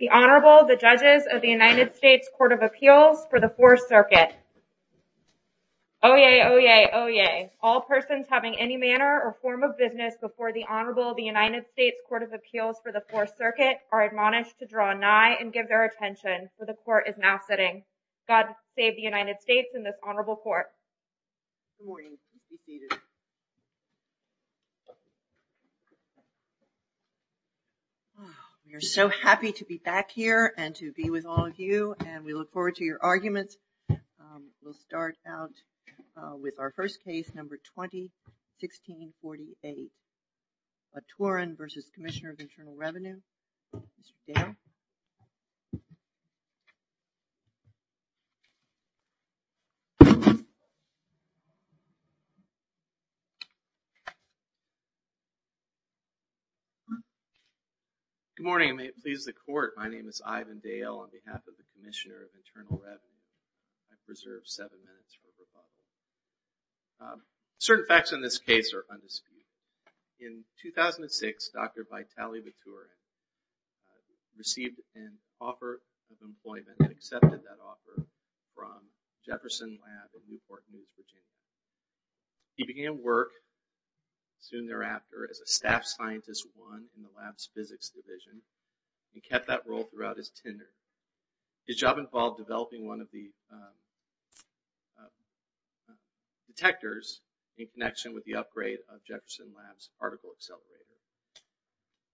The Honorable, the Judges of the United States Court of Appeals for the Fourth Circuit Oyez, oyez, oyez. All persons having any manner or form of business before the Honorable of the United States Court of Appeals for the Fourth Circuit are admonished to draw nigh and give their attention, for the Court is now sitting. God save the United States and this Honorable Court. We are so happy to be back here and to be with all of you and we look forward to your arguments. We'll start out with our first case, number 20, 1648. Baturin v. Commissioner of Internal Revenue. Mr. Dale. Good morning and may it please the Court. My name is Ivan Dale on behalf of the Commissioner of Internal Revenue. I preserve seven minutes for rebuttal. Certain facts in this case are undisputed. In 2006, Dr. Vitaly Baturin received an offer of employment and accepted that offer from Jefferson Lab in Newport News, Virginia. He began work soon thereafter as a staff scientist 1 in the lab's physics division and kept that role throughout his tenure. His job involved developing one of the detectors in connection with the upgrade of Jefferson Lab's particle accelerator.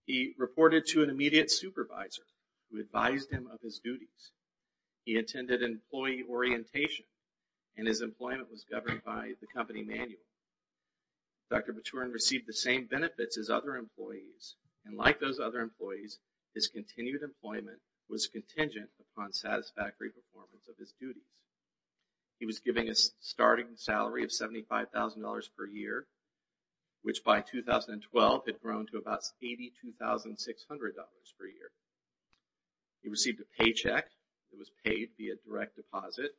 He reported to an immediate supervisor who advised him of his duties. He attended employee orientation and his employment was governed by the company manual. Dr. Baturin received the same benefits as other employees and like those other employees, his continued employment was contingent upon satisfactory performance of his duties. He was given a starting salary of $75,000 per year, which by 2012 had grown to about $82,600 per year. He received a paycheck that was paid via direct deposit.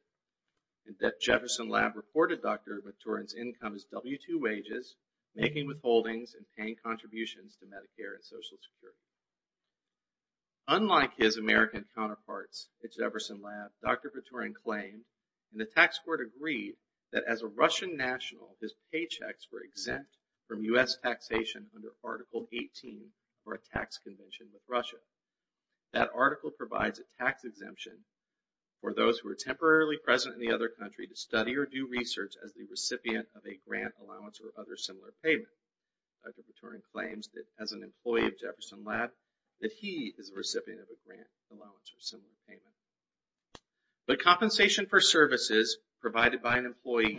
Jefferson Lab reported Dr. Baturin's income as W-2 wages, making withholdings, and paying contributions to Medicare and Social Security. Unlike his American counterparts at Jefferson Lab, Dr. Baturin claimed, and the tax court agreed, that as a Russian national, his paychecks were exempt from U.S. taxation under Article 18 for a tax convention with Russia. That article provides a tax exemption for those who are temporarily present in the other country to study or do research as the recipient of a grant, allowance, or other similar payment. Dr. Baturin claims that as an employee of Jefferson Lab, that he is a recipient of a grant, allowance, or similar payment. But compensation for services provided by an employee,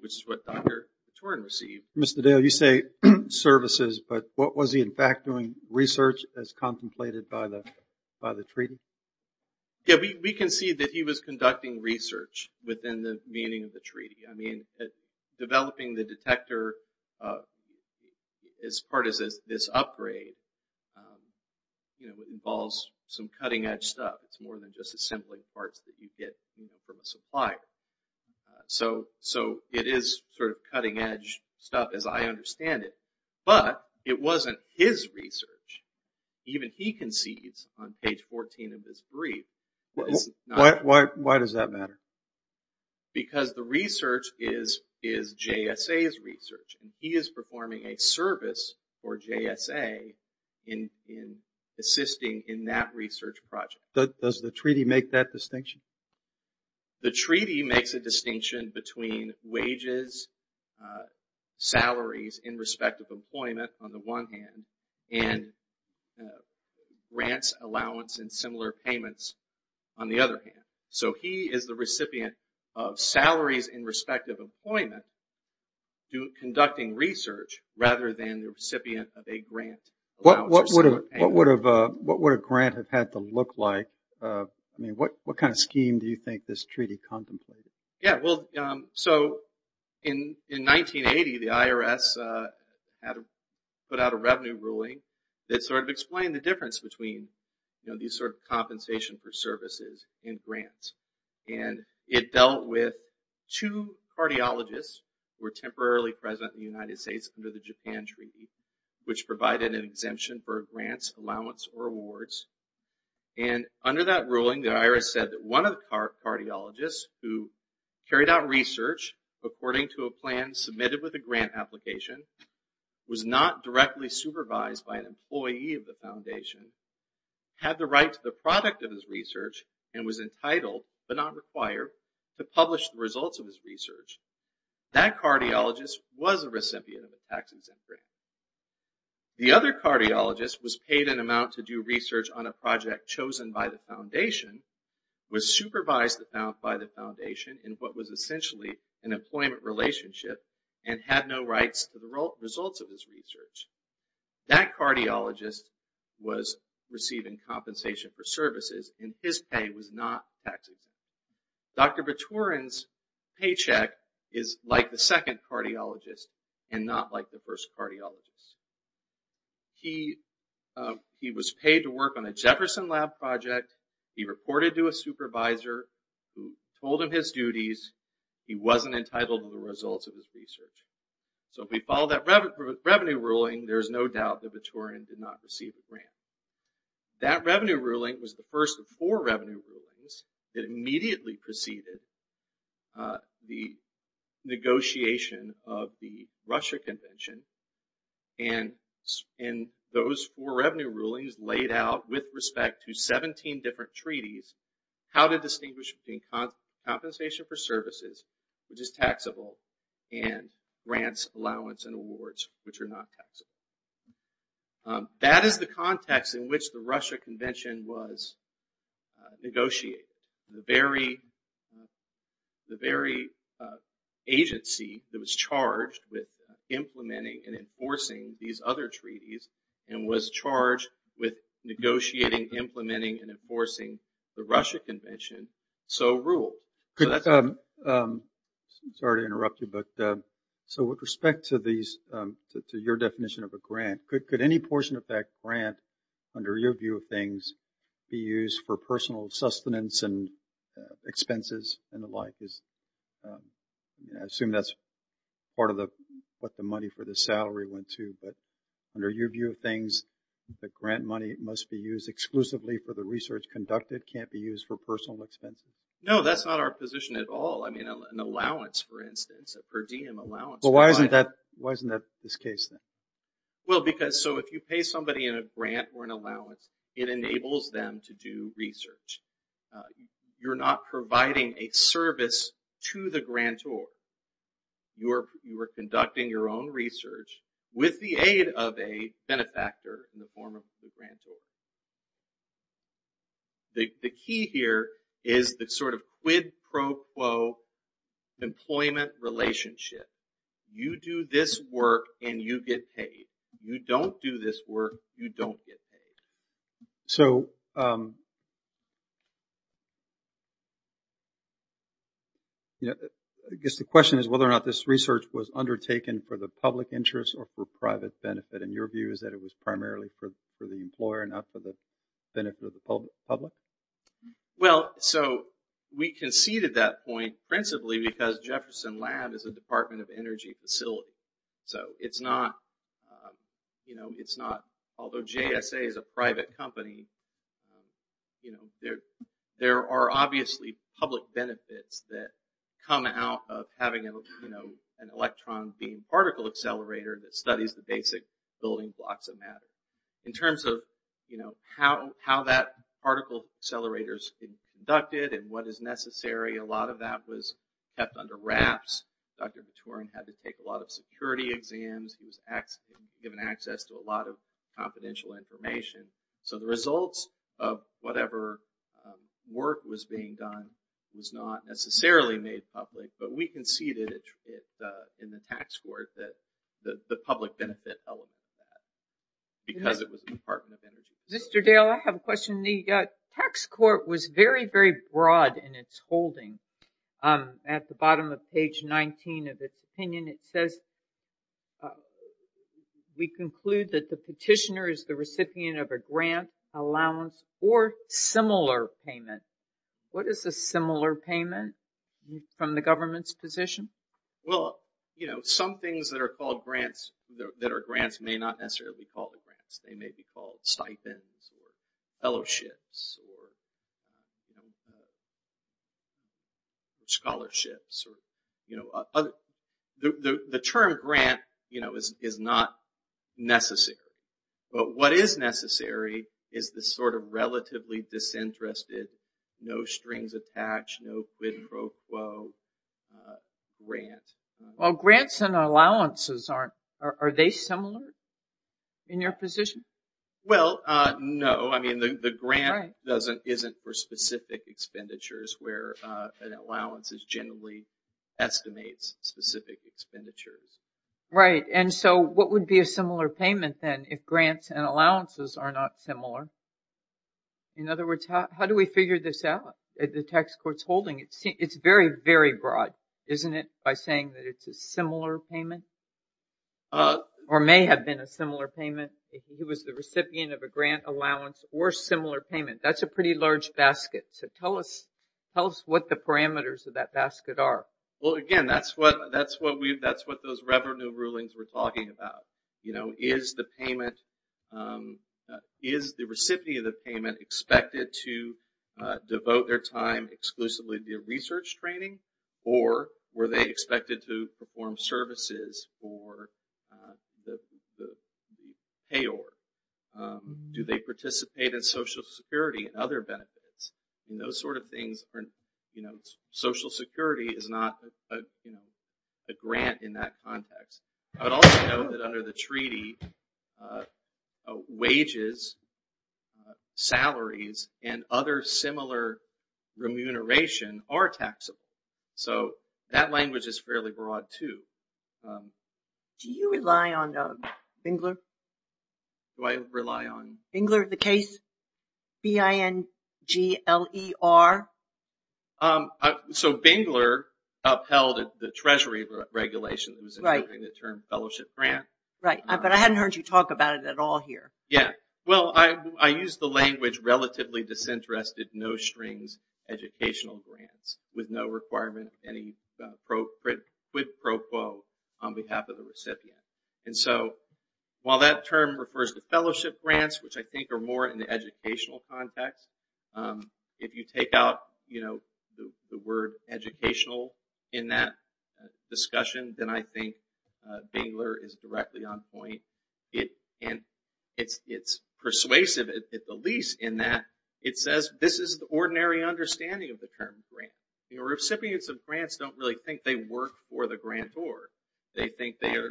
which is what Dr. Baturin received... Mr. Dale, you say services, but what was he in fact doing? Research as contemplated by the treaty? Yeah, we concede that he was conducting research within the meaning of the treaty. I mean, developing the detector as part of this upgrade involves some cutting-edge stuff. It's more than just assembling parts that you get from a supplier. So it is sort of cutting-edge stuff as I understand it. But it wasn't his research. Even he concedes on page 14 of this brief. Why does that matter? Because the research is JSA's research. He is performing a service for JSA in assisting in that research project. Does the treaty make that distinction? The treaty makes a distinction between wages, salaries, in respect of employment on the one hand, and grants, allowance, and similar payments on the other hand. So he is the recipient of salaries in respect of employment, conducting research, rather than the recipient of a grant, allowance, or similar payment. What would a grant have had to look like? What kind of scheme do you think this treaty contemplated? In 1980, the IRS put out a revenue ruling that sort of explained the difference between these sort of compensation for services and grants. It dealt with two cardiologists who were temporarily present in the United States under the Japan Treaty, which provided an exemption for grants, allowance, or awards. Under that ruling, the IRS said that one of the cardiologists who carried out research according to a plan submitted with a grant application, was not directly supervised by an employee of the foundation, had the right to the product of his research, and was entitled, but not required, to publish the results of his research. That cardiologist was a recipient of a tax-exempt grant. The other cardiologist was paid an amount to do research on a project chosen by the foundation, was supervised by the foundation in what was essentially an employment relationship, and had no rights to the results of his research. That cardiologist was receiving compensation for services, and his pay was not tax-exempt. Dr. Vitorin's paycheck is like the second cardiologist, and not like the first cardiologist. He was paid to work on a Jefferson Lab project, he reported to a supervisor who told him his duties, he wasn't entitled to the results of his research. So if we follow that revenue ruling, there is no doubt that Vitorin did not receive a grant. That revenue ruling was the first of four revenue rulings that immediately preceded the negotiation of the Russia Convention, and those four revenue rulings laid out, with respect to 17 different treaties, how to distinguish between compensation for services, which is taxable, and grants, allowance, and awards, which are not taxable. That is the context in which the Russia Convention was negotiated. The very agency that was charged with implementing and enforcing these other treaties, and was charged with negotiating, implementing, and enforcing the Russia Convention, so ruled. Sorry to interrupt you, but with respect to your definition of a grant, could any portion of that grant, under your view of things, be used for personal sustenance and expenses and the like? I assume that's part of what the money for the salary went to, but under your view of things, the grant money must be used exclusively for the research conducted, it can't be used for personal expenses? No, that's not our position at all. I mean, an allowance, for instance, a per diem allowance. Well, why isn't that this case then? Well, because, so if you pay somebody in a grant or an allowance, it enables them to do research. You're not providing a service to the grantor. You are conducting your own research with the aid of a benefactor in the form of the grantor. The key here is the sort of quid pro quo employment relationship. You do this work and you get paid. You don't do this work, you don't get paid. So, I guess the question is whether or not this research was undertaken for the public interest or for private benefit, and your view is that it was primarily for the employer, not for the benefit of the public? Well, so, we conceded that point principally because Jefferson Lab is a Department of Energy facility. So, it's not, you know, it's not, although JSA is a private company, you know, there are obviously public benefits that come out of having, you know, an electron beam particle accelerator that studies the basic building blocks of matter. In terms of, you know, how that particle accelerator is conducted and what is necessary, a lot of that was kept under wraps. Dr. Vitorin had to take a lot of security exams. He was given access to a lot of confidential information. So, the results of whatever work was being done was not necessarily made public, but we conceded in the tax court that the public benefit element of that because it was a Department of Energy. Mr. Dale, I have a question. The tax court was very, very broad in its holding. At the bottom of page 19 of its opinion, it says, we conclude that the petitioner is the recipient of a grant, allowance, or similar payment. What is a similar payment from the government's position? Well, you know, some things that are called grants, that are grants may not necessarily be called grants. They may be called stipends or fellowships or scholarships or, you know, the term grant, you know, is not necessary. But what is necessary is the sort of relatively disinterested, no strings attached, no quid pro quo grant. Well, grants and allowances aren't, are they similar in your position? Well, no. I mean, the grant doesn't, isn't for specific expenditures where an allowance is generally estimates specific expenditures. Right. And so what would be a similar payment then if grants and allowances are not similar? In other words, how do we figure this out at the tax court's holding? It's very, very broad, isn't it, by saying that it's a similar payment or may have been a similar payment. He was the recipient of a grant, allowance or similar payment. That's a pretty large basket. So tell us, tell us what the parameters of that basket are. Well, again, that's what, that's what we've, that's what those revenue rulings were talking about. You know, is the payment, is the recipient of the payment expected to devote their time exclusively to research training? Or were they expected to perform services for the payor? Do they participate in Social Security and other benefits? Those sort of things are, you know, Social Security is not a grant in that context. But also know that under the treaty, wages, salaries and other similar remuneration are taxable. So that language is fairly broad, too. Do you rely on Bingler? Do I rely on? Bingler, the case, B-I-N-G-L-E-R? So Bingler upheld the Treasury regulation. Right. The term fellowship grant. Right, but I hadn't heard you talk about it at all here. Yeah, well, I used the language relatively disinterested, no strings, educational grants with no requirement of any quid pro quo on behalf of the recipient. And so while that term refers to fellowship grants, which I think are more in the educational context, if you take out, you know, the word educational in that discussion, then I think Bingler is directly on point. And it's persuasive at the least in that it says this is the ordinary understanding of the term grant. You know, recipients of grants don't really think they work for the grantor. They think they are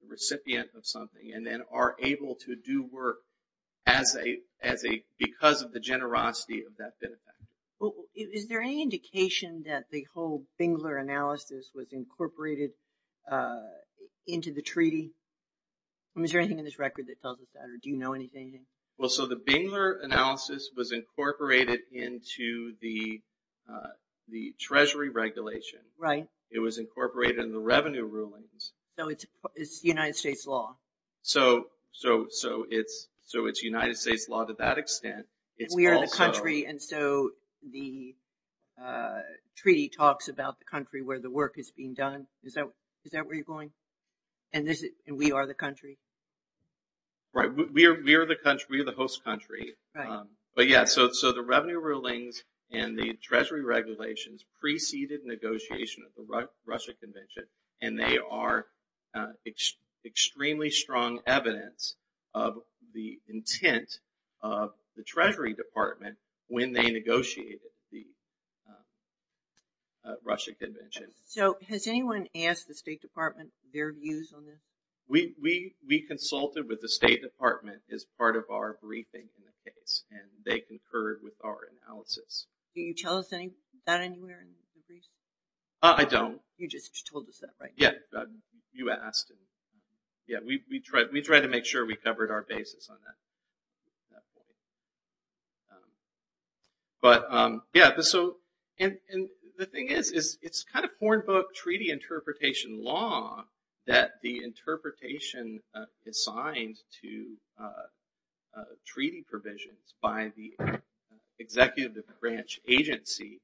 the recipient of something and then are able to do work because of the generosity of that benefit. Is there any indication that the whole Bingler analysis was incorporated into the treaty? I mean, is there anything in this record that tells us that? Or do you know anything? Well, so the Bingler analysis was incorporated into the Treasury regulation. Right. It was incorporated in the revenue rulings. So it's United States law. So it's United States law to that extent. We are the country, and so the treaty talks about the country where the work is being done. Is that where you're going? And we are the country? Right. We are the host country. Right. But, yeah, so the revenue rulings and the Treasury regulations preceded negotiation of the Russia Convention, and they are extremely strong evidence of the intent of the Treasury Department when they negotiated the Russia Convention. So has anyone asked the State Department their views on this? We consulted with the State Department as part of our briefing on the case, and they concurred with our analysis. Do you tell us that anywhere in the brief? I don't. You just told us that, right? Yeah. You asked. Yeah, we try to make sure we covered our basis on that. But, yeah, and the thing is, it's kind of hornbook treaty interpretation law that the interpretation assigned to treaty provisions by the executive branch agency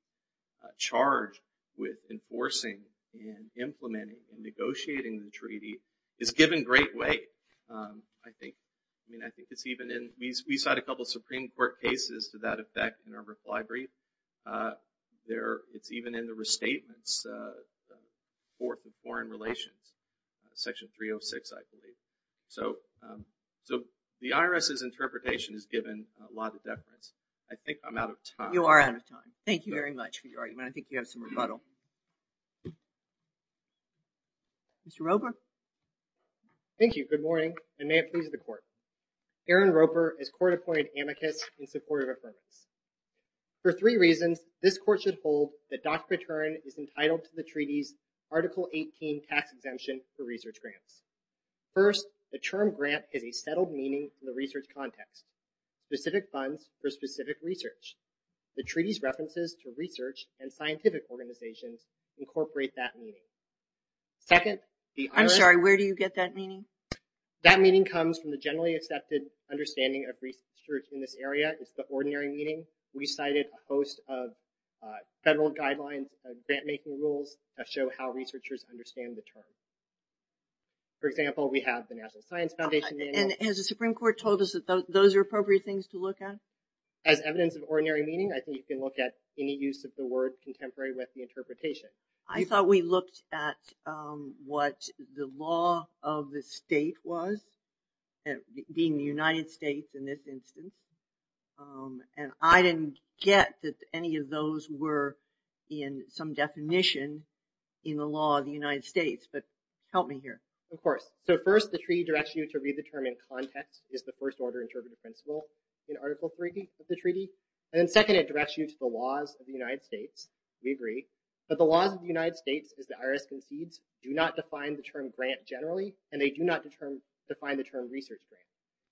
charged with enforcing and implementing and negotiating the treaty is given great weight. We cited a couple of Supreme Court cases to that effect in our reply brief. It's even in the restatements for foreign relations, Section 306, I believe. So the IRS's interpretation is given a lot of deference. I think I'm out of time. You are out of time. Thank you very much for your argument. I think you have some rebuttal. Mr. Rober? Thank you. Good morning. I may have pleased the court. Aaron Roper is court-appointed amicus in support of affirmance. For three reasons, this court should hold that Dr. Patern is entitled to the treaty's Article 18 tax exemption for research grants. First, the term grant is a settled meaning in the research context, specific funds for specific research. The treaty's references to research and scientific organizations incorporate that meaning. I'm sorry, where do you get that meaning? That meaning comes from the generally accepted understanding of research in this area. It's the ordinary meaning. We cited a host of federal guidelines, grant-making rules that show how researchers understand the term. For example, we have the National Science Foundation. And has the Supreme Court told us that those are appropriate things to look at? As evidence of ordinary meaning, I think you can look at any use of the word contemporary with the interpretation. I thought we looked at what the law of the state was, being the United States in this instance. And I didn't get that any of those were in some definition in the law of the United States. But help me here. Of course. So first, the treaty directs you to read the term in context, which is the first order interpretive principle in Article 3 of the treaty. And then second, it directs you to the laws of the United States. We agree. But the laws of the United States, as the IRS concedes, do not define the term grant generally. And they do not define the term research grant.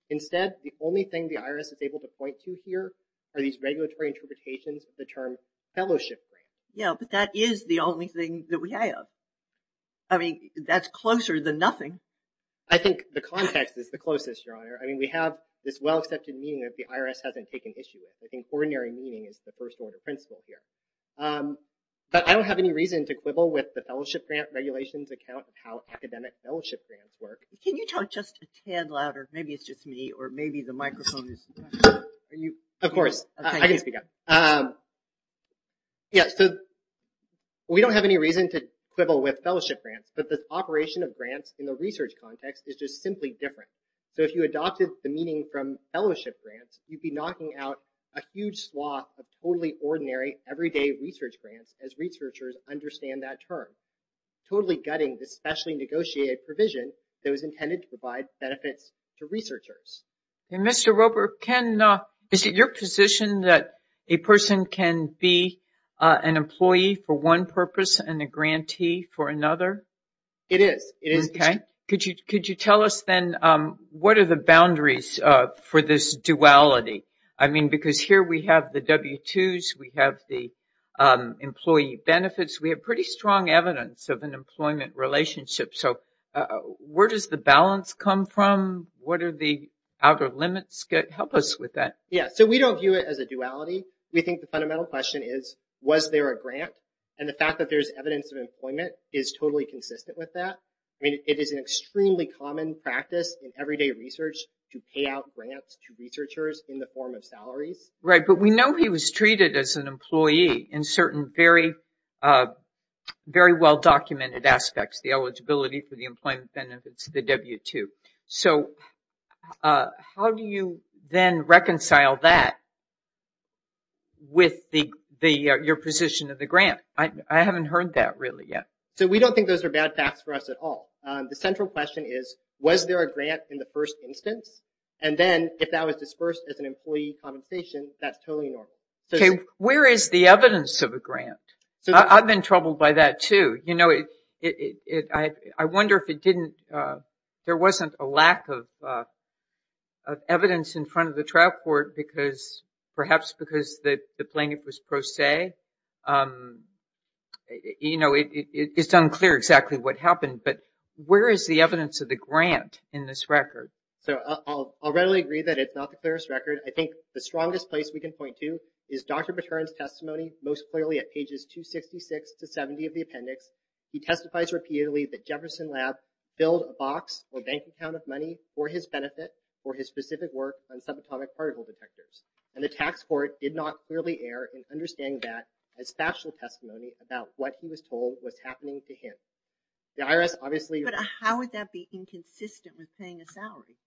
Instead, the only thing the IRS is able to point to here are these regulatory interpretations of the term fellowship grant. Yeah, but that is the only thing that we have. I mean, that's closer than nothing. I think the context is the closest, Your Honor. I mean, we have this well-accepted meaning that the IRS hasn't taken issue with. I think ordinary meaning is the first order principle here. But I don't have any reason to quibble with the fellowship grant regulations account of how academic fellowship grants work. Can you talk just a tad louder? Maybe it's just me, or maybe the microphone is. Of course. I can speak up. Yeah, so we don't have any reason to quibble with fellowship grants. But the operation of grants in the research context is just simply different. So if you adopted the meaning from fellowship grants, you'd be knocking out a huge swath of totally ordinary everyday research grants, as researchers understand that term, totally gutting the specially negotiated provision that was intended to provide benefits to researchers. And, Mr. Roper, is it your position that a person can be an employee for one purpose and a grantee for another? It is. Okay. Could you tell us, then, what are the boundaries for this duality? I mean, because here we have the W-2s. We have the employee benefits. We have pretty strong evidence of an employment relationship. So where does the balance come from? What are the outer limits? Help us with that. Yeah, so we don't view it as a duality. We think the fundamental question is, was there a grant? And the fact that there's evidence of employment is totally consistent with that. I mean, it is an extremely common practice in everyday research to pay out grants to researchers in the form of salaries. Right, but we know he was treated as an employee in certain very well-documented aspects, the eligibility for the employment benefits, the W-2. So how do you then reconcile that with your position of the grant? I haven't heard that really yet. So we don't think those are bad facts for us at all. The central question is, was there a grant in the first instance? And then, if that was dispersed as an employee compensation, that's totally normal. Okay, where is the evidence of a grant? I've been troubled by that, too. You know, I wonder if it didn't – there wasn't a lack of evidence in front of the trial court because – perhaps because the plaintiff was pro se. You know, it's unclear exactly what happened. But where is the evidence of the grant in this record? So I'll readily agree that it's not the clearest record. I think the strongest place we can point to is Dr. Baturin's testimony, most clearly at pages 266 to 270 of the appendix. He testifies repeatedly that Jefferson Lab filled a box or bank account of money for his benefit for his specific work on subatomic particle detectors. And the tax court did not clearly err in understanding that as factual testimony about what he was told was happening to him. The IRS obviously – But how would that be inconsistent with paying a salary?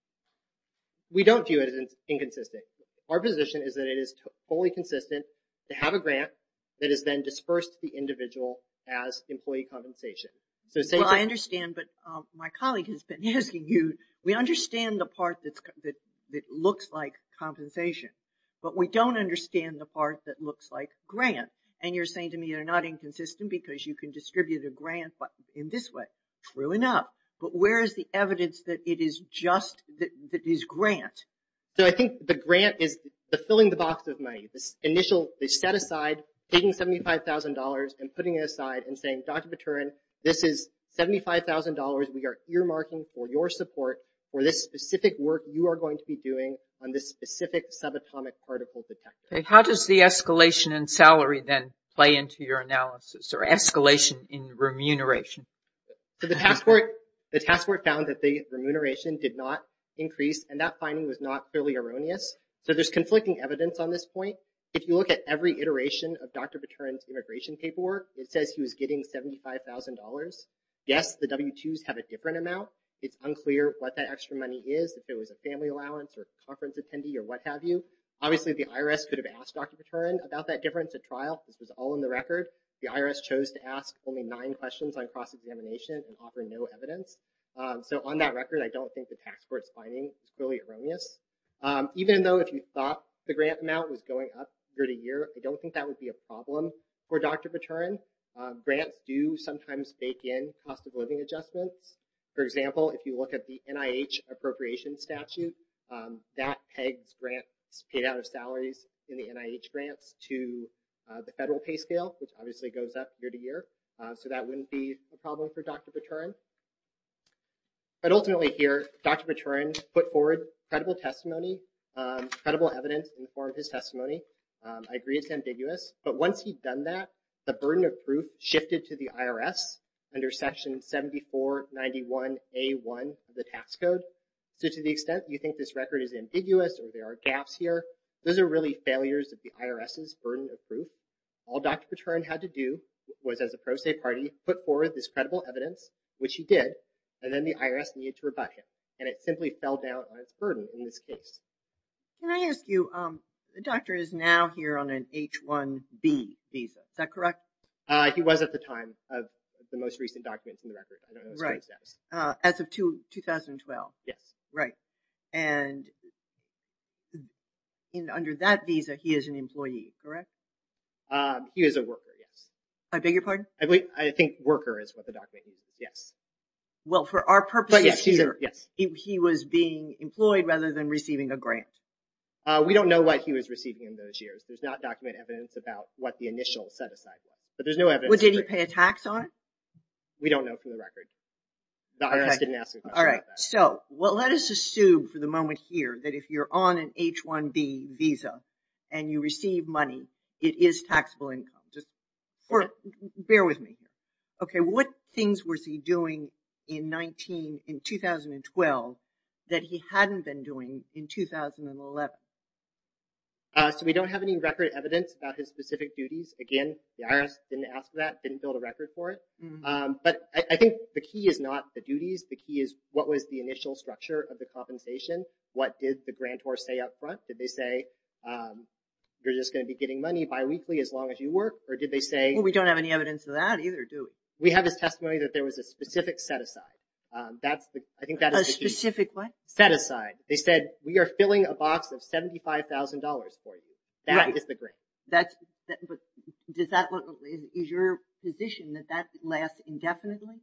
We don't view it as inconsistent. Our position is that it is fully consistent to have a grant that is then dispersed to the individual as employee compensation. Well, I understand, but my colleague has been asking you – we understand the part that looks like compensation. But we don't understand the part that looks like grant. And you're saying to me they're not inconsistent because you can distribute a grant in this way. True enough. But where is the evidence that it is just – that it is grant? So I think the grant is the filling the box of money. They set aside – taking $75,000 and putting it aside and saying, Dr. Baturin, this is $75,000 we are earmarking for your support for this specific work you are going to be doing on this specific subatomic particle detector. How does the escalation in salary then play into your analysis or escalation in remuneration? So the tax court found that the remuneration did not increase, and that finding was not clearly erroneous. So there's conflicting evidence on this point. If you look at every iteration of Dr. Baturin's immigration paperwork, it says he was getting $75,000. Yes, the W-2s have a different amount. It's unclear what that extra money is, if it was a family allowance or conference attendee or what have you. Obviously, the IRS could have asked Dr. Baturin about that difference at trial. This was all in the record. The IRS chose to ask only nine questions on cross-examination and offer no evidence. So on that record, I don't think the tax court's finding is clearly erroneous. Even though if you thought the grant amount was going up year-to-year, I don't think that would be a problem for Dr. Baturin. Grants do sometimes bake in cost-of-living adjustments. For example, if you look at the NIH appropriation statute, that pegs grants paid out of salaries in the NIH grants to the federal pay scale, which obviously goes up year-to-year. So that wouldn't be a problem for Dr. Baturin. But ultimately here, Dr. Baturin put forward credible testimony, credible evidence in the form of his testimony. I agree it's ambiguous. But once he'd done that, the burden of proof shifted to the IRS under Section 7491A1 of the tax code. So to the extent you think this record is ambiguous or there are gaps here, those are really failures of the IRS's burden of proof. All Dr. Baturin had to do was, as a pro se party, put forward this credible evidence, which he did. And then the IRS needed to rebut him. And it simply fell down on its burden in this case. Can I ask you, the doctor is now here on an H-1B visa. Is that correct? He was at the time of the most recent documents in the record. I don't know his current status. As of 2012? Yes. Right. And under that visa, he is an employee, correct? He is a worker, yes. I beg your pardon? I think worker is what the document says, yes. Well, for our purposes, he was being employed rather than receiving a grant. We don't know what he was receiving in those years. There's not document evidence about what the initial set-aside was. But there's no evidence. Did he pay a tax on it? We don't know from the record. The IRS didn't ask a question about that. So let us assume for the moment here that if you're on an H-1B visa and you receive money, it is taxable income. Just bear with me here. Okay, what things was he doing in 2012 that he hadn't been doing in 2011? So we don't have any record evidence about his specific duties. Again, the IRS didn't ask for that, didn't build a record for it. But I think the key is not the duties. The key is what was the initial structure of the compensation. What did the grantor say up front? Did they say, you're just going to be getting money biweekly as long as you work? Or did they say? Well, we don't have any evidence of that either, do we? We have his testimony that there was a specific set-aside. A specific what? Set-aside. They said, we are filling a box of $75,000 for you. That is the grant. Is your position that that lasts indefinitely?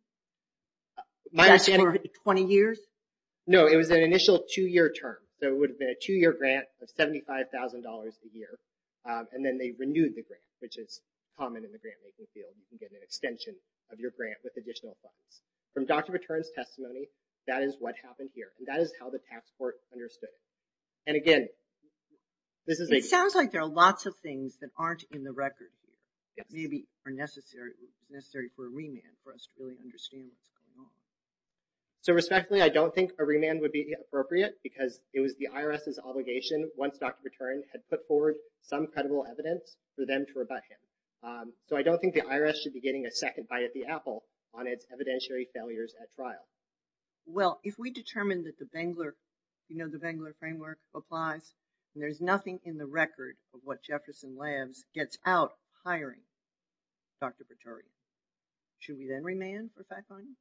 That's for 20 years? No, it was an initial two-year term. So it would have been a two-year grant of $75,000 a year. And then they renewed the grant, which is common in the grant-making field. You can get an extension of your grant with additional funds. From Dr. Baturin's testimony, that is what happened here. And that is how the tax court understood it. And again, this is a – It sounds like there are lots of things that aren't in the record. Maybe are necessary for a remand for us to really understand what's going on. So respectfully, I don't think a remand would be appropriate because it was the IRS's obligation once Dr. Baturin had put forward some credible evidence for them to rebut him. So I don't think the IRS should be getting a second bite at the apple on its evidentiary failures at trial. Well, if we determine that the Bangler framework applies, and there's nothing in the record of what Jefferson Labs gets out hiring Dr. Baturin, should we then remand for 5,000?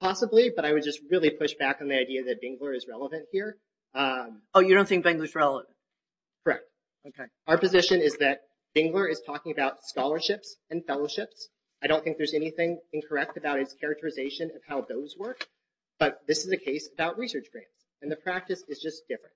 Possibly, but I would just really push back on the idea that Bangler is relevant here. Oh, you don't think Bangler's relevant? Correct. Okay. Our position is that Bangler is talking about scholarships and fellowships. I don't think there's anything incorrect about his characterization of how those work. But this is a case about research grants, and the practice is just different.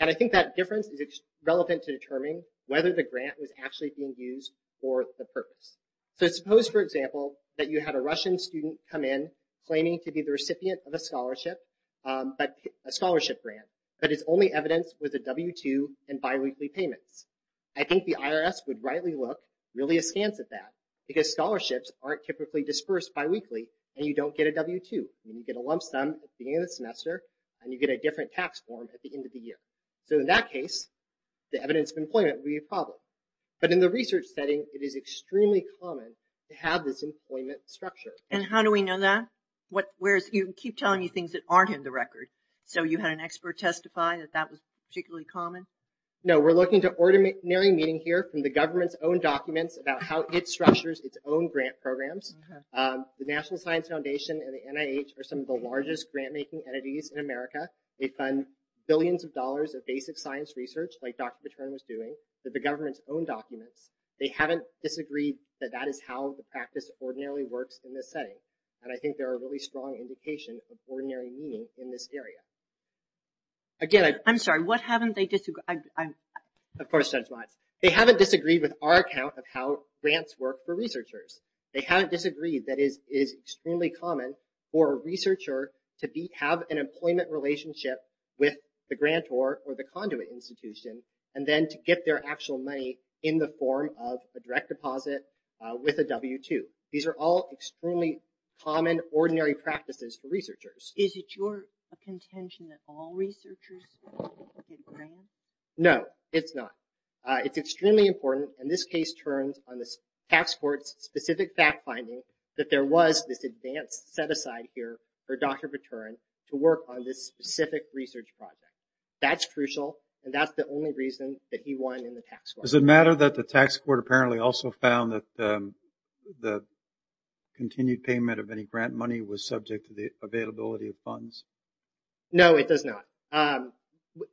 And I think that difference is relevant to determining whether the grant was actually being used for the purpose. So suppose, for example, that you had a Russian student come in claiming to be the recipient of a scholarship grant, but its only evidence was a W-2 and biweekly payments. I think the IRS would rightly look really askance at that because scholarships aren't typically dispersed biweekly, and you don't get a W-2. You get a lump sum at the end of the semester, and you get a different tax form at the end of the year. So in that case, the evidence of employment would be a problem. But in the research setting, it is extremely common to have this employment structure. And how do we know that? You keep telling me things that aren't in the record. So you had an expert testify that that was particularly common? No, we're looking to ordinary meeting here from the government's own documents about how it structures its own grant programs. The National Science Foundation and the NIH are some of the largest grant-making entities in America. They fund billions of dollars of basic science research, like Dr. Paterno was doing, to the government's own documents. They haven't disagreed that that is how the practice ordinarily works in this setting. And I think they're a really strong indication of ordinary meeting in this area. I'm sorry, what haven't they disagreed? Of course, Judge Watts. They haven't disagreed with our account of how grants work for researchers. They haven't disagreed that it is extremely common for a researcher to have an employment relationship with the grantor or the conduit institution and then to get their actual money in the form of a direct deposit with a W-2. These are all extremely common, ordinary practices for researchers. Is it your contention that all researchers get grants? No, it's not. And this case turns on the tax court's specific fact-finding that there was this advanced set-aside here for Dr. Paterno to work on this specific research project. That's crucial, and that's the only reason that he won in the tax court. Does it matter that the tax court apparently also found that the continued payment of any grant money was subject to the availability of funds? No, it does not.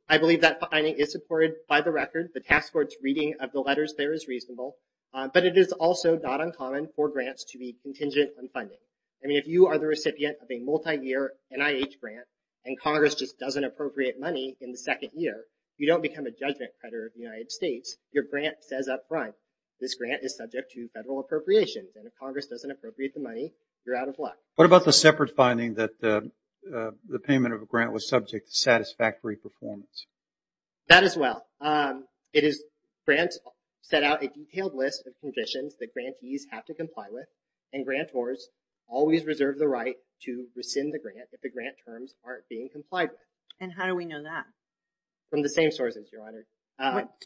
I believe that finding is supported by the record. The tax court's reading of the letters there is reasonable, but it is also not uncommon for grants to be contingent on funding. I mean, if you are the recipient of a multi-year NIH grant and Congress just doesn't appropriate money in the second year, you don't become a judgment creditor of the United States. Your grant says up front, this grant is subject to federal appropriations, and if Congress doesn't appropriate the money, you're out of luck. What about the separate finding that the payment of a grant was subject to satisfactory performance? That as well. Grants set out a detailed list of conditions that grantees have to comply with, and grantors always reserve the right to rescind the grant if the grant terms aren't being complied with. And how do we know that? From the same sources, Your Honor.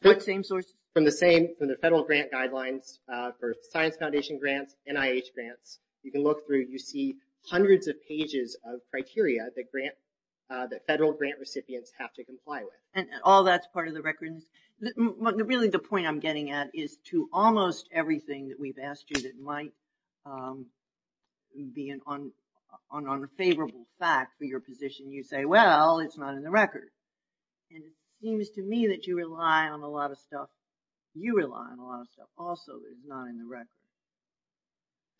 What same sources? From the federal grant guidelines for Science Foundation grants, NIH grants. You can look through, you see hundreds of pages of criteria that federal grant recipients have to comply with. And all that's part of the records? Really, the point I'm getting at is to almost everything that we've asked you that might be an unfavorable fact for your position, you say, well, it's not in the record. And it seems to me that you rely on a lot of stuff. You rely on a lot of stuff also that's not in the record.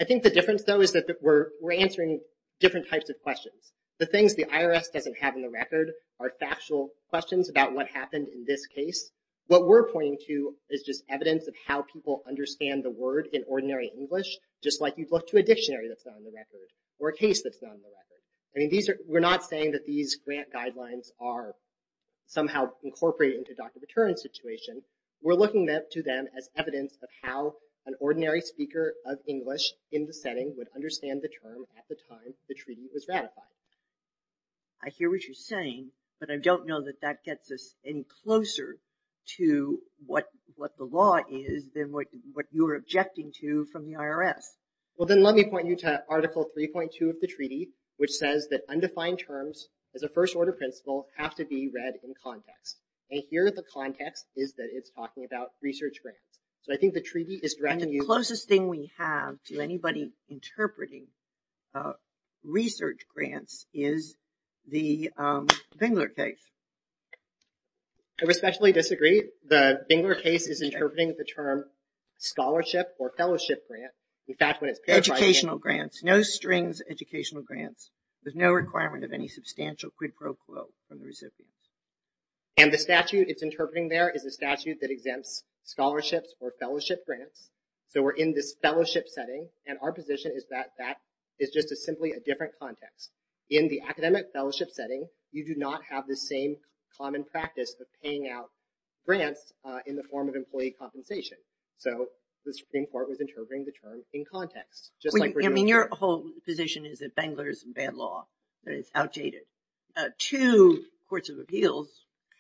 I think the difference, though, is that we're answering different types of questions. The things the IRS doesn't have in the record are factual questions about what happened in this case. What we're pointing to is just evidence of how people understand the word in ordinary English, just like you'd look to a dictionary that's not in the record or a case that's not in the record. We're not saying that these grant guidelines are somehow incorporated into Dr. Baturin's situation. We're looking to them as evidence of how an ordinary speaker of English in the setting would understand the term at the time the treaty was ratified. I hear what you're saying, but I don't know that that gets us any closer to what the law is than what you're objecting to from the IRS. Well, then let me point you to Article 3.2 of the treaty, which says that undefined terms, as a first-order principle, have to be read in context. And here the context is that it's talking about research grants. The closest thing we have to anybody interpreting research grants is the Bingler case. I respectfully disagree. The Bingler case is interpreting the term scholarship or fellowship grant. Educational grants, no strings educational grants. There's no requirement of any substantial quid pro quo from the recipient. And the statute it's interpreting there is a statute that exempts scholarships or fellowship grants. So we're in this fellowship setting, and our position is that that is just simply a different context. In the academic fellowship setting, you do not have the same common practice of paying out grants in the form of employee compensation. So the Supreme Court was interpreting the term in context, just like we're doing here. I mean, your whole position is that Bingler is bad law, that it's outdated. Two courts of appeals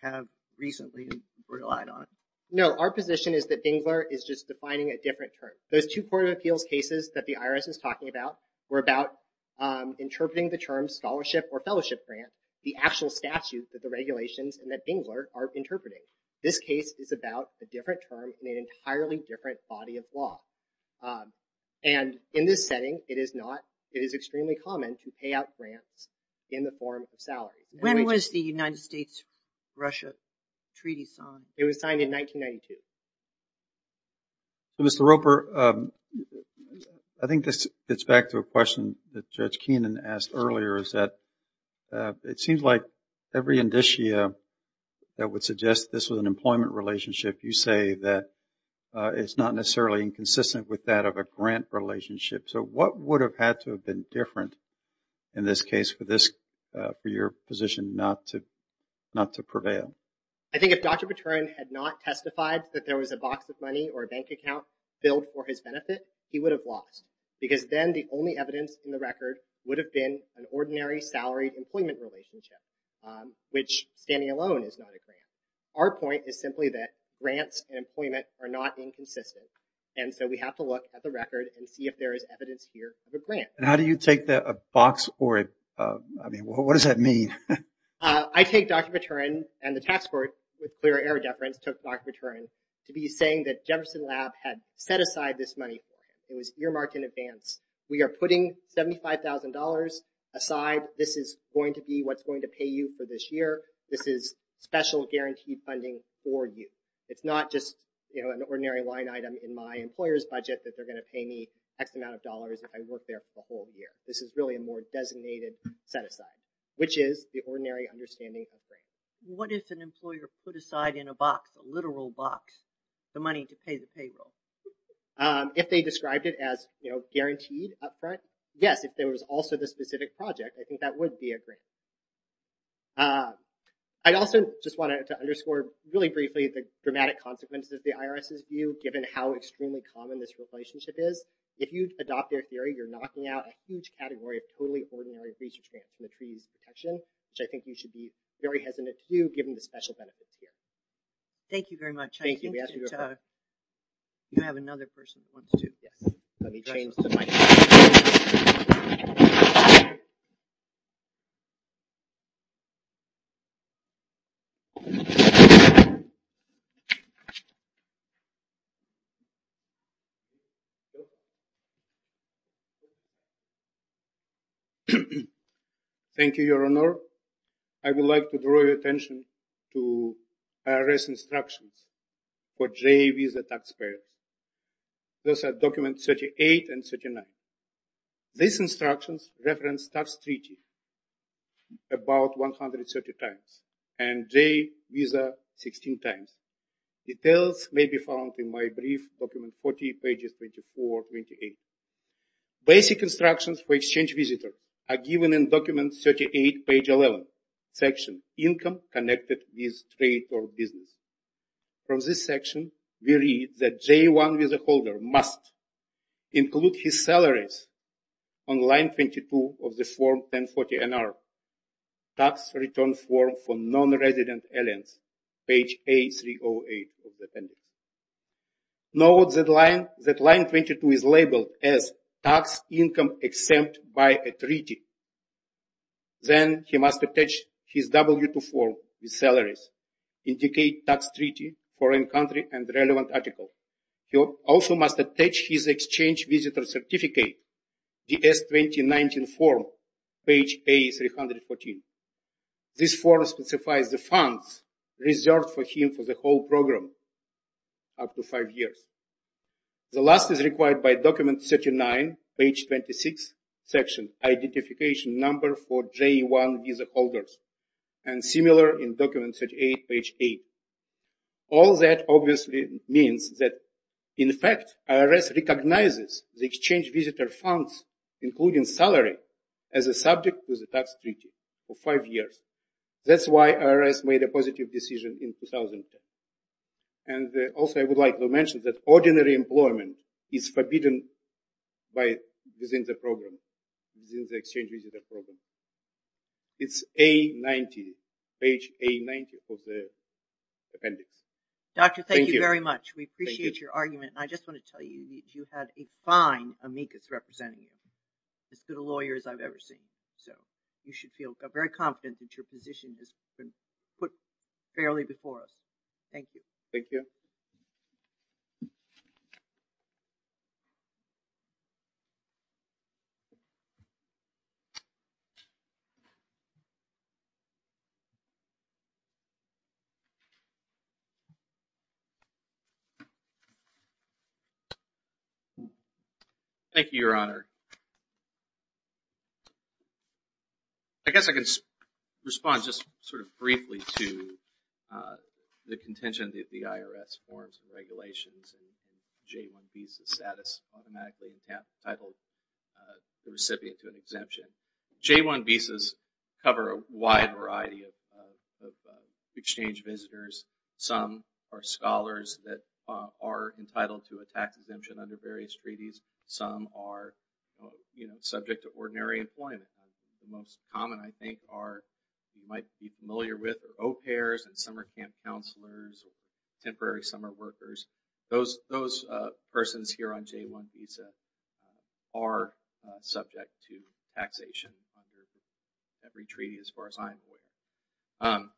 have recently relied on it. No, our position is that Bingler is just defining a different term. Those two court of appeals cases that the IRS is talking about were about interpreting the term scholarship or fellowship grant, the actual statute that the regulations and that Bingler are interpreting. This case is about a different term in an entirely different body of law. And in this setting, it is extremely common to pay out grants in the form of salaries. When was the United States-Russia Treaty signed? It was signed in 1992. Mr. Roper, I think this gets back to a question that Judge Keenan asked earlier, is that it seems like every indicia that would suggest this was an employment relationship, you say that it's not necessarily inconsistent with that of a grant relationship. So what would have had to have been different in this case for your position not to prevail? I think if Dr. Patern had not testified that there was a box of money or a bank account billed for his benefit, he would have lost, because then the only evidence in the record would have been an ordinary salaried employment relationship, which, standing alone, is not a grant. Our point is simply that grants and employment are not inconsistent, and so we have to look at the record and see if there is evidence here of a grant. And how do you take a box or a, I mean, what does that mean? I take Dr. Patern, and the Tax Court, with clear error deference, took Dr. Patern to be saying that Jefferson Lab had set aside this money. It was earmarked in advance. We are putting $75,000 aside. This is going to be what's going to pay you for this year. This is special guaranteed funding for you. It's not just an ordinary line item in my employer's budget that they're going to pay me X amount of dollars if I work there for the whole year. This is really a more designated set aside, which is the ordinary understanding of grants. What if an employer put aside in a box, a literal box, the money to pay the payroll? If they described it as guaranteed up front, yes, if there was also the specific project, I think that would be a grant. I also just want to underscore really briefly the dramatic consequences of the IRS's view, given how extremely common this relationship is. If you adopt their theory, you're knocking out a huge category of totally ordinary research grants from the Treaties of Protection, which I think you should be very hesitant to do, given the special benefits here. Thank you very much. I think that you have another person who wants to. Yes, let me change the mic. Thank you. Thank you, Your Honor. I would like to draw your attention to IRS instructions for JVs, the taxpayers. Those are documents 38 and 39. These instructions reference tax treaty about 130 times and J visa 16 times. Details may be found in my brief, document 40, pages 24, 28. Basic instructions for exchange visitor are given in document 38, page 11, section income connected with trade or business. From this section, we read that J1 visa holder must include his salaries on line 22 of the form 1040NR, tax return form for non-resident aliens, page A308 of the appendix. Note that line 22 is labeled as tax income exempt by a treaty. Then he must attach his W-2 form with salaries, indicate tax treaty, foreign country, and relevant article. He also must attach his exchange visitor certificate, DS-2019 form, page A314. This form specifies the funds reserved for him for the whole program up to five years. The last is required by document 39, page 26, section identification number for J1 visa holders, and similar in document 38, page 8. All that obviously means that, in fact, IRS recognizes the exchange visitor funds, including salary, as a subject to the tax treaty for five years. That's why IRS made a positive decision in 2010. And also I would like to mention that ordinary employment is forbidden within the program, within the exchange visitor program. It's A90, page A90 of the appendix. Doctor, thank you very much. We appreciate your argument. And I just want to tell you, you had a fine amicus representing you, as good a lawyer as I've ever seen. So you should feel very confident that your position has been put fairly before us. Thank you. Thank you. Thank you, Your Honor. I guess I can respond just sort of briefly to the contention that the IRS forms and regulations and J1 visa status automatically entitled the recipient to an exemption. J1 visas cover a wide variety of exchange visitors. Some are scholars that are entitled to a tax exemption under various treaties. Some are subject to ordinary employment. The most common, I think, are you might be familiar with are au pairs and summer camp counselors, temporary summer workers. Those persons here on J1 visa are subject to taxation under every treaty as far as I'm aware.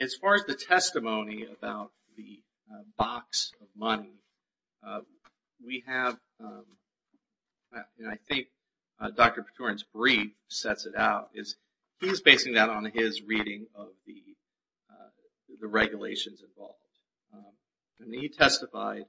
As far as the testimony about the box of money, we have, I think Dr. Petourin's brief sets it out. He's basing that on his reading of the regulations involved. And he testified,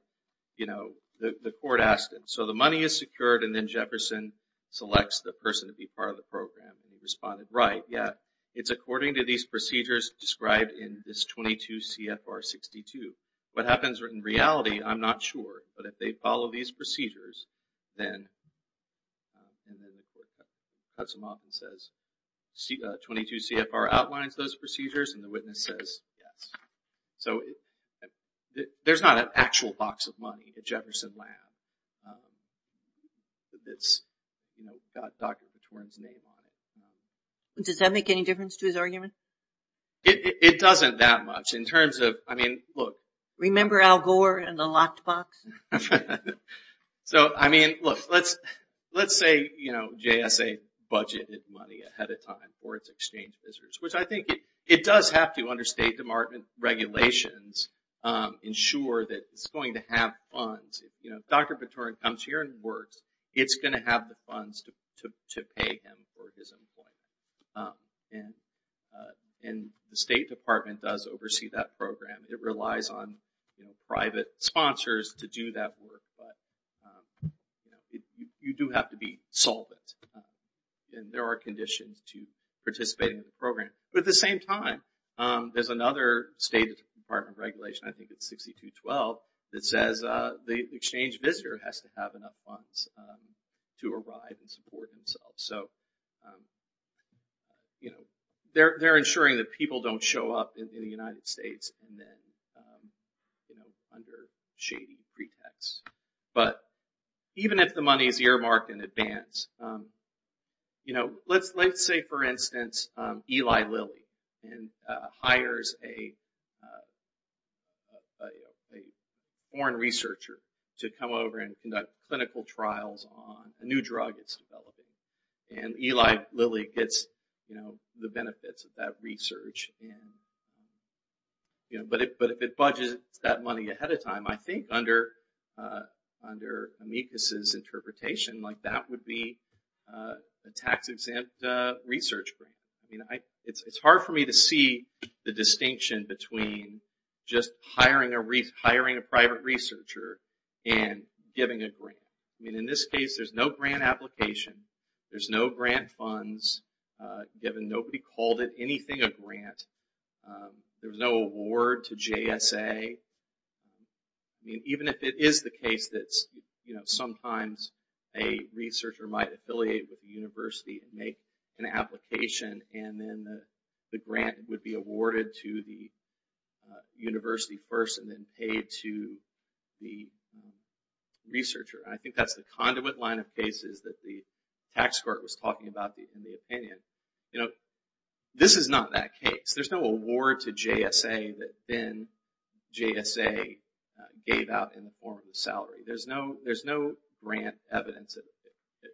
you know, the court asked him, so the money is secured and then Jefferson selects the person to be part of the program and he responded right. Yet, it's according to these procedures described in this 22 CFR 62. What happens in reality, I'm not sure. But if they follow these procedures, then, and then the court cuts him off and says, 22 CFR outlines those procedures and the witness says yes. So there's not an actual box of money at Jefferson Lab. That's, you know, got Dr. Petourin's name on it. Does that make any difference to his argument? It doesn't that much in terms of, I mean, look. Remember Al Gore and the locked box? So, I mean, look, let's say, you know, JSA budgeted money ahead of time for its exchange visitors, which I think it does have to under State Department regulations ensure that it's going to have funds. You know, if Dr. Petourin comes here and works, it's going to have the funds to pay him for his employment. And the State Department does oversee that program. It relies on, you know, private sponsors to do that work. But, you know, you do have to be solvent. And there are conditions to participate in the program. But at the same time, there's another State Department regulation, I think it's 6212, that says the exchange visitor has to have enough funds to arrive and support himself. So, you know, they're ensuring that people don't show up in the United States and then, you know, under shady pretexts. But even if the money is earmarked in advance, you know, let's say, for instance, Eli Lilly hires a foreign researcher to come over and conduct clinical trials on a new drug it's developing. And Eli Lilly gets, you know, the benefits of that research. But if it budgets that money ahead of time, I think under amicus's interpretation, like that would be a tax-exempt research grant. I mean, it's hard for me to see the distinction between just hiring a private researcher and giving a grant. I mean, in this case, there's no grant application. There's no grant funds given. Nobody called it anything a grant. There's no award to JSA. I mean, even if it is the case that, you know, sometimes a researcher might affiliate with a university and make an application and then the grant would be awarded to the university first and then paid to the researcher. And I think that's the conduit line of cases that the tax court was talking about in the opinion. You know, this is not that case. There's no award to JSA that then JSA gave out in the form of a salary. There's no grant evidence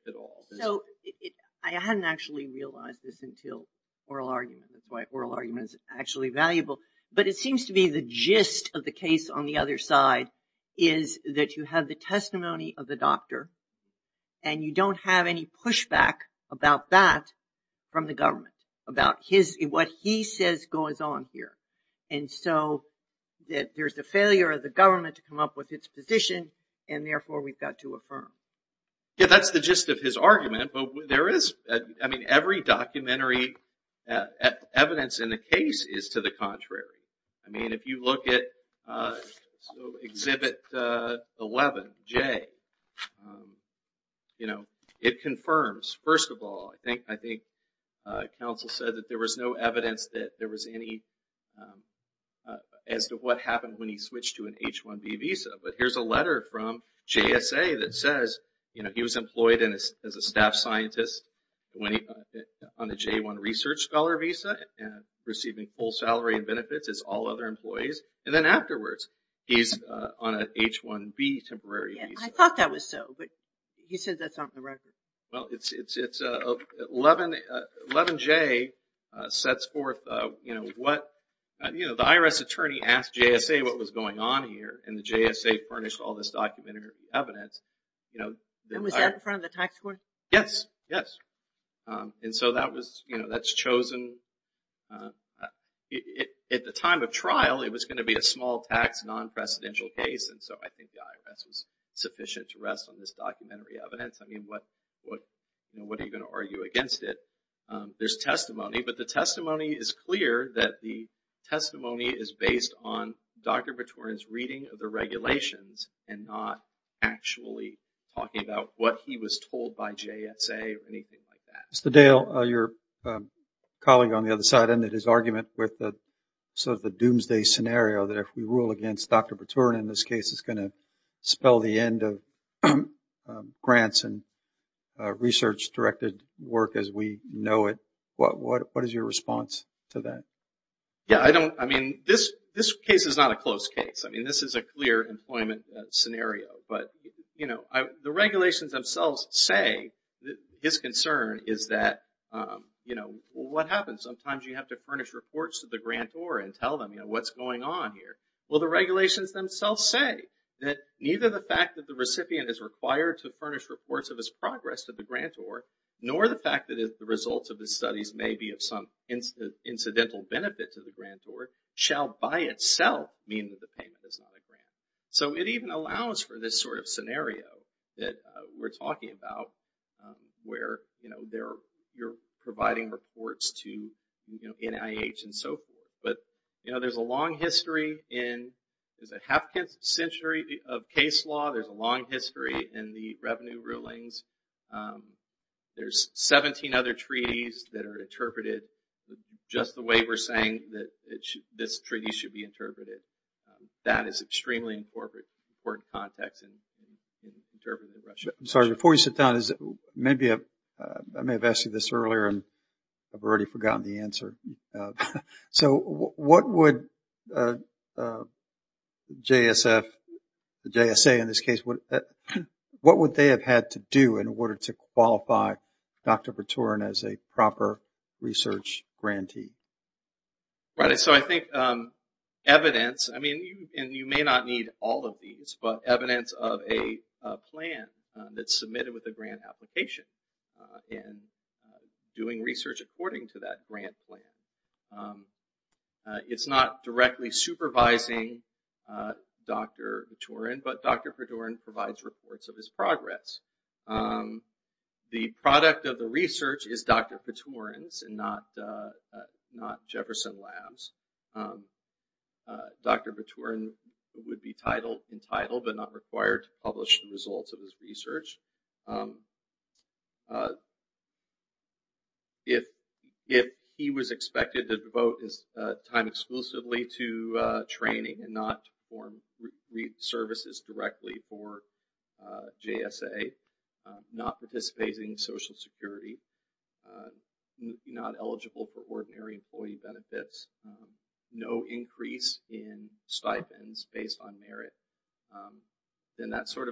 at all. So, I hadn't actually realized this until oral argument. That's why oral argument is actually valuable. But it seems to be the gist of the case on the other side is that you have the testimony of the doctor and you don't have any pushback about that from the government. About what he says goes on here. And so, there's a failure of the government to come up with its position and therefore we've got to affirm. Yeah, that's the gist of his argument. But there is, I mean, every documentary evidence in the case is to the contrary. I mean, if you look at exhibit 11J, you know, it confirms, first of all, I think counsel said that there was no evidence that there was any as to what happened when he switched to an H-1B visa. But here's a letter from JSA that says, you know, he was employed as a staff scientist on a J-1 research scholar visa and receiving full salary and benefits as all other employees. And then afterwards, he's on an H-1B temporary visa. Well, it's 11J sets forth what, you know, the IRS attorney asked JSA what was going on here and the JSA furnished all this documentary evidence. And was that in front of the tax court? Yes, yes. And so that was, you know, that's chosen. At the time of trial, it was going to be a small tax non-presidential case and so I think the IRS was sufficient to rest on this documentary evidence. I mean, what are you going to argue against it? There's testimony, but the testimony is clear that the testimony is based on Dr. Bertorin's reading of the regulations and not actually talking about what he was told by JSA or anything like that. Mr. Dale, your colleague on the other side ended his argument with sort of the doomsday scenario that if we rule against Dr. Bertorin, this case is going to spell the end of grants and research-directed work as we know it. What is your response to that? Yeah, I mean, this case is not a close case. I mean, this is a clear employment scenario. But, you know, the regulations themselves say his concern is that, you know, what happens sometimes you have to furnish reports to the grantor and tell them, you know, what's going on here. Well, the regulations themselves say that neither the fact that the recipient is required to furnish reports of his progress to the grantor nor the fact that the results of his studies may be of some incidental benefit to the grantor shall by itself mean that the payment is not a grant. So it even allows for this sort of scenario that we're talking about where, you know, you're providing reports to NIH and so forth. But, you know, there's a long history in, is it half a century of case law? There's a long history in the revenue rulings. There's 17 other treaties that are interpreted just the way we're saying that this treaty should be interpreted. That is extremely important context in interpreting Russia. I'm sorry, before you sit down, maybe I may have asked you this earlier and I've already forgotten the answer. So what would JSF, JSA in this case, what would they have had to do in order to qualify Dr. Varturin as a proper research grantee? Right, so I think evidence, I mean, and you may not need all of these, but evidence of a plan that's submitted with a grant application and doing research according to that grant plan. It's not directly supervising Dr. Varturin, but Dr. Varturin provides reports of his progress. The product of the research is Dr. Varturin's and not Jefferson Labs. Dr. Varturin would be entitled but not required to publish the results of his research. If he was expected to devote his time exclusively to training and not perform services directly for JSA, not participating in Social Security, not eligible for ordinary employee benefits, no increase in stipends based on merit, then that sort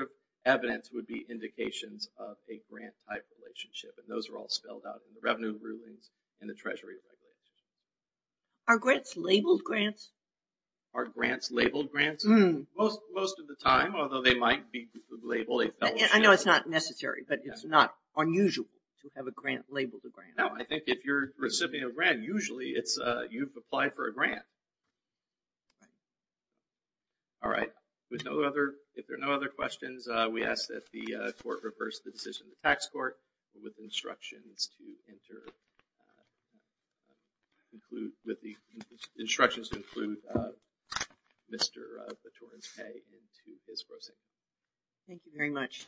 of evidence would be indications of a grant-type relationship, and those are all spelled out in the revenue rulings in the Treasury Regulations. Are grants labeled grants? Are grants labeled grants? Most of the time, although they might be labeled a fellowship. I know it's not necessary, but it's not unusual to have a grant labeled a grant. No, I think if you're a recipient of a grant, usually you've applied for a grant. All right. If there are no other questions, we ask that the Court reverse the decision of the Tax Court with instructions to include Mr. Varturin's pay into his proceedings. Thank you very much.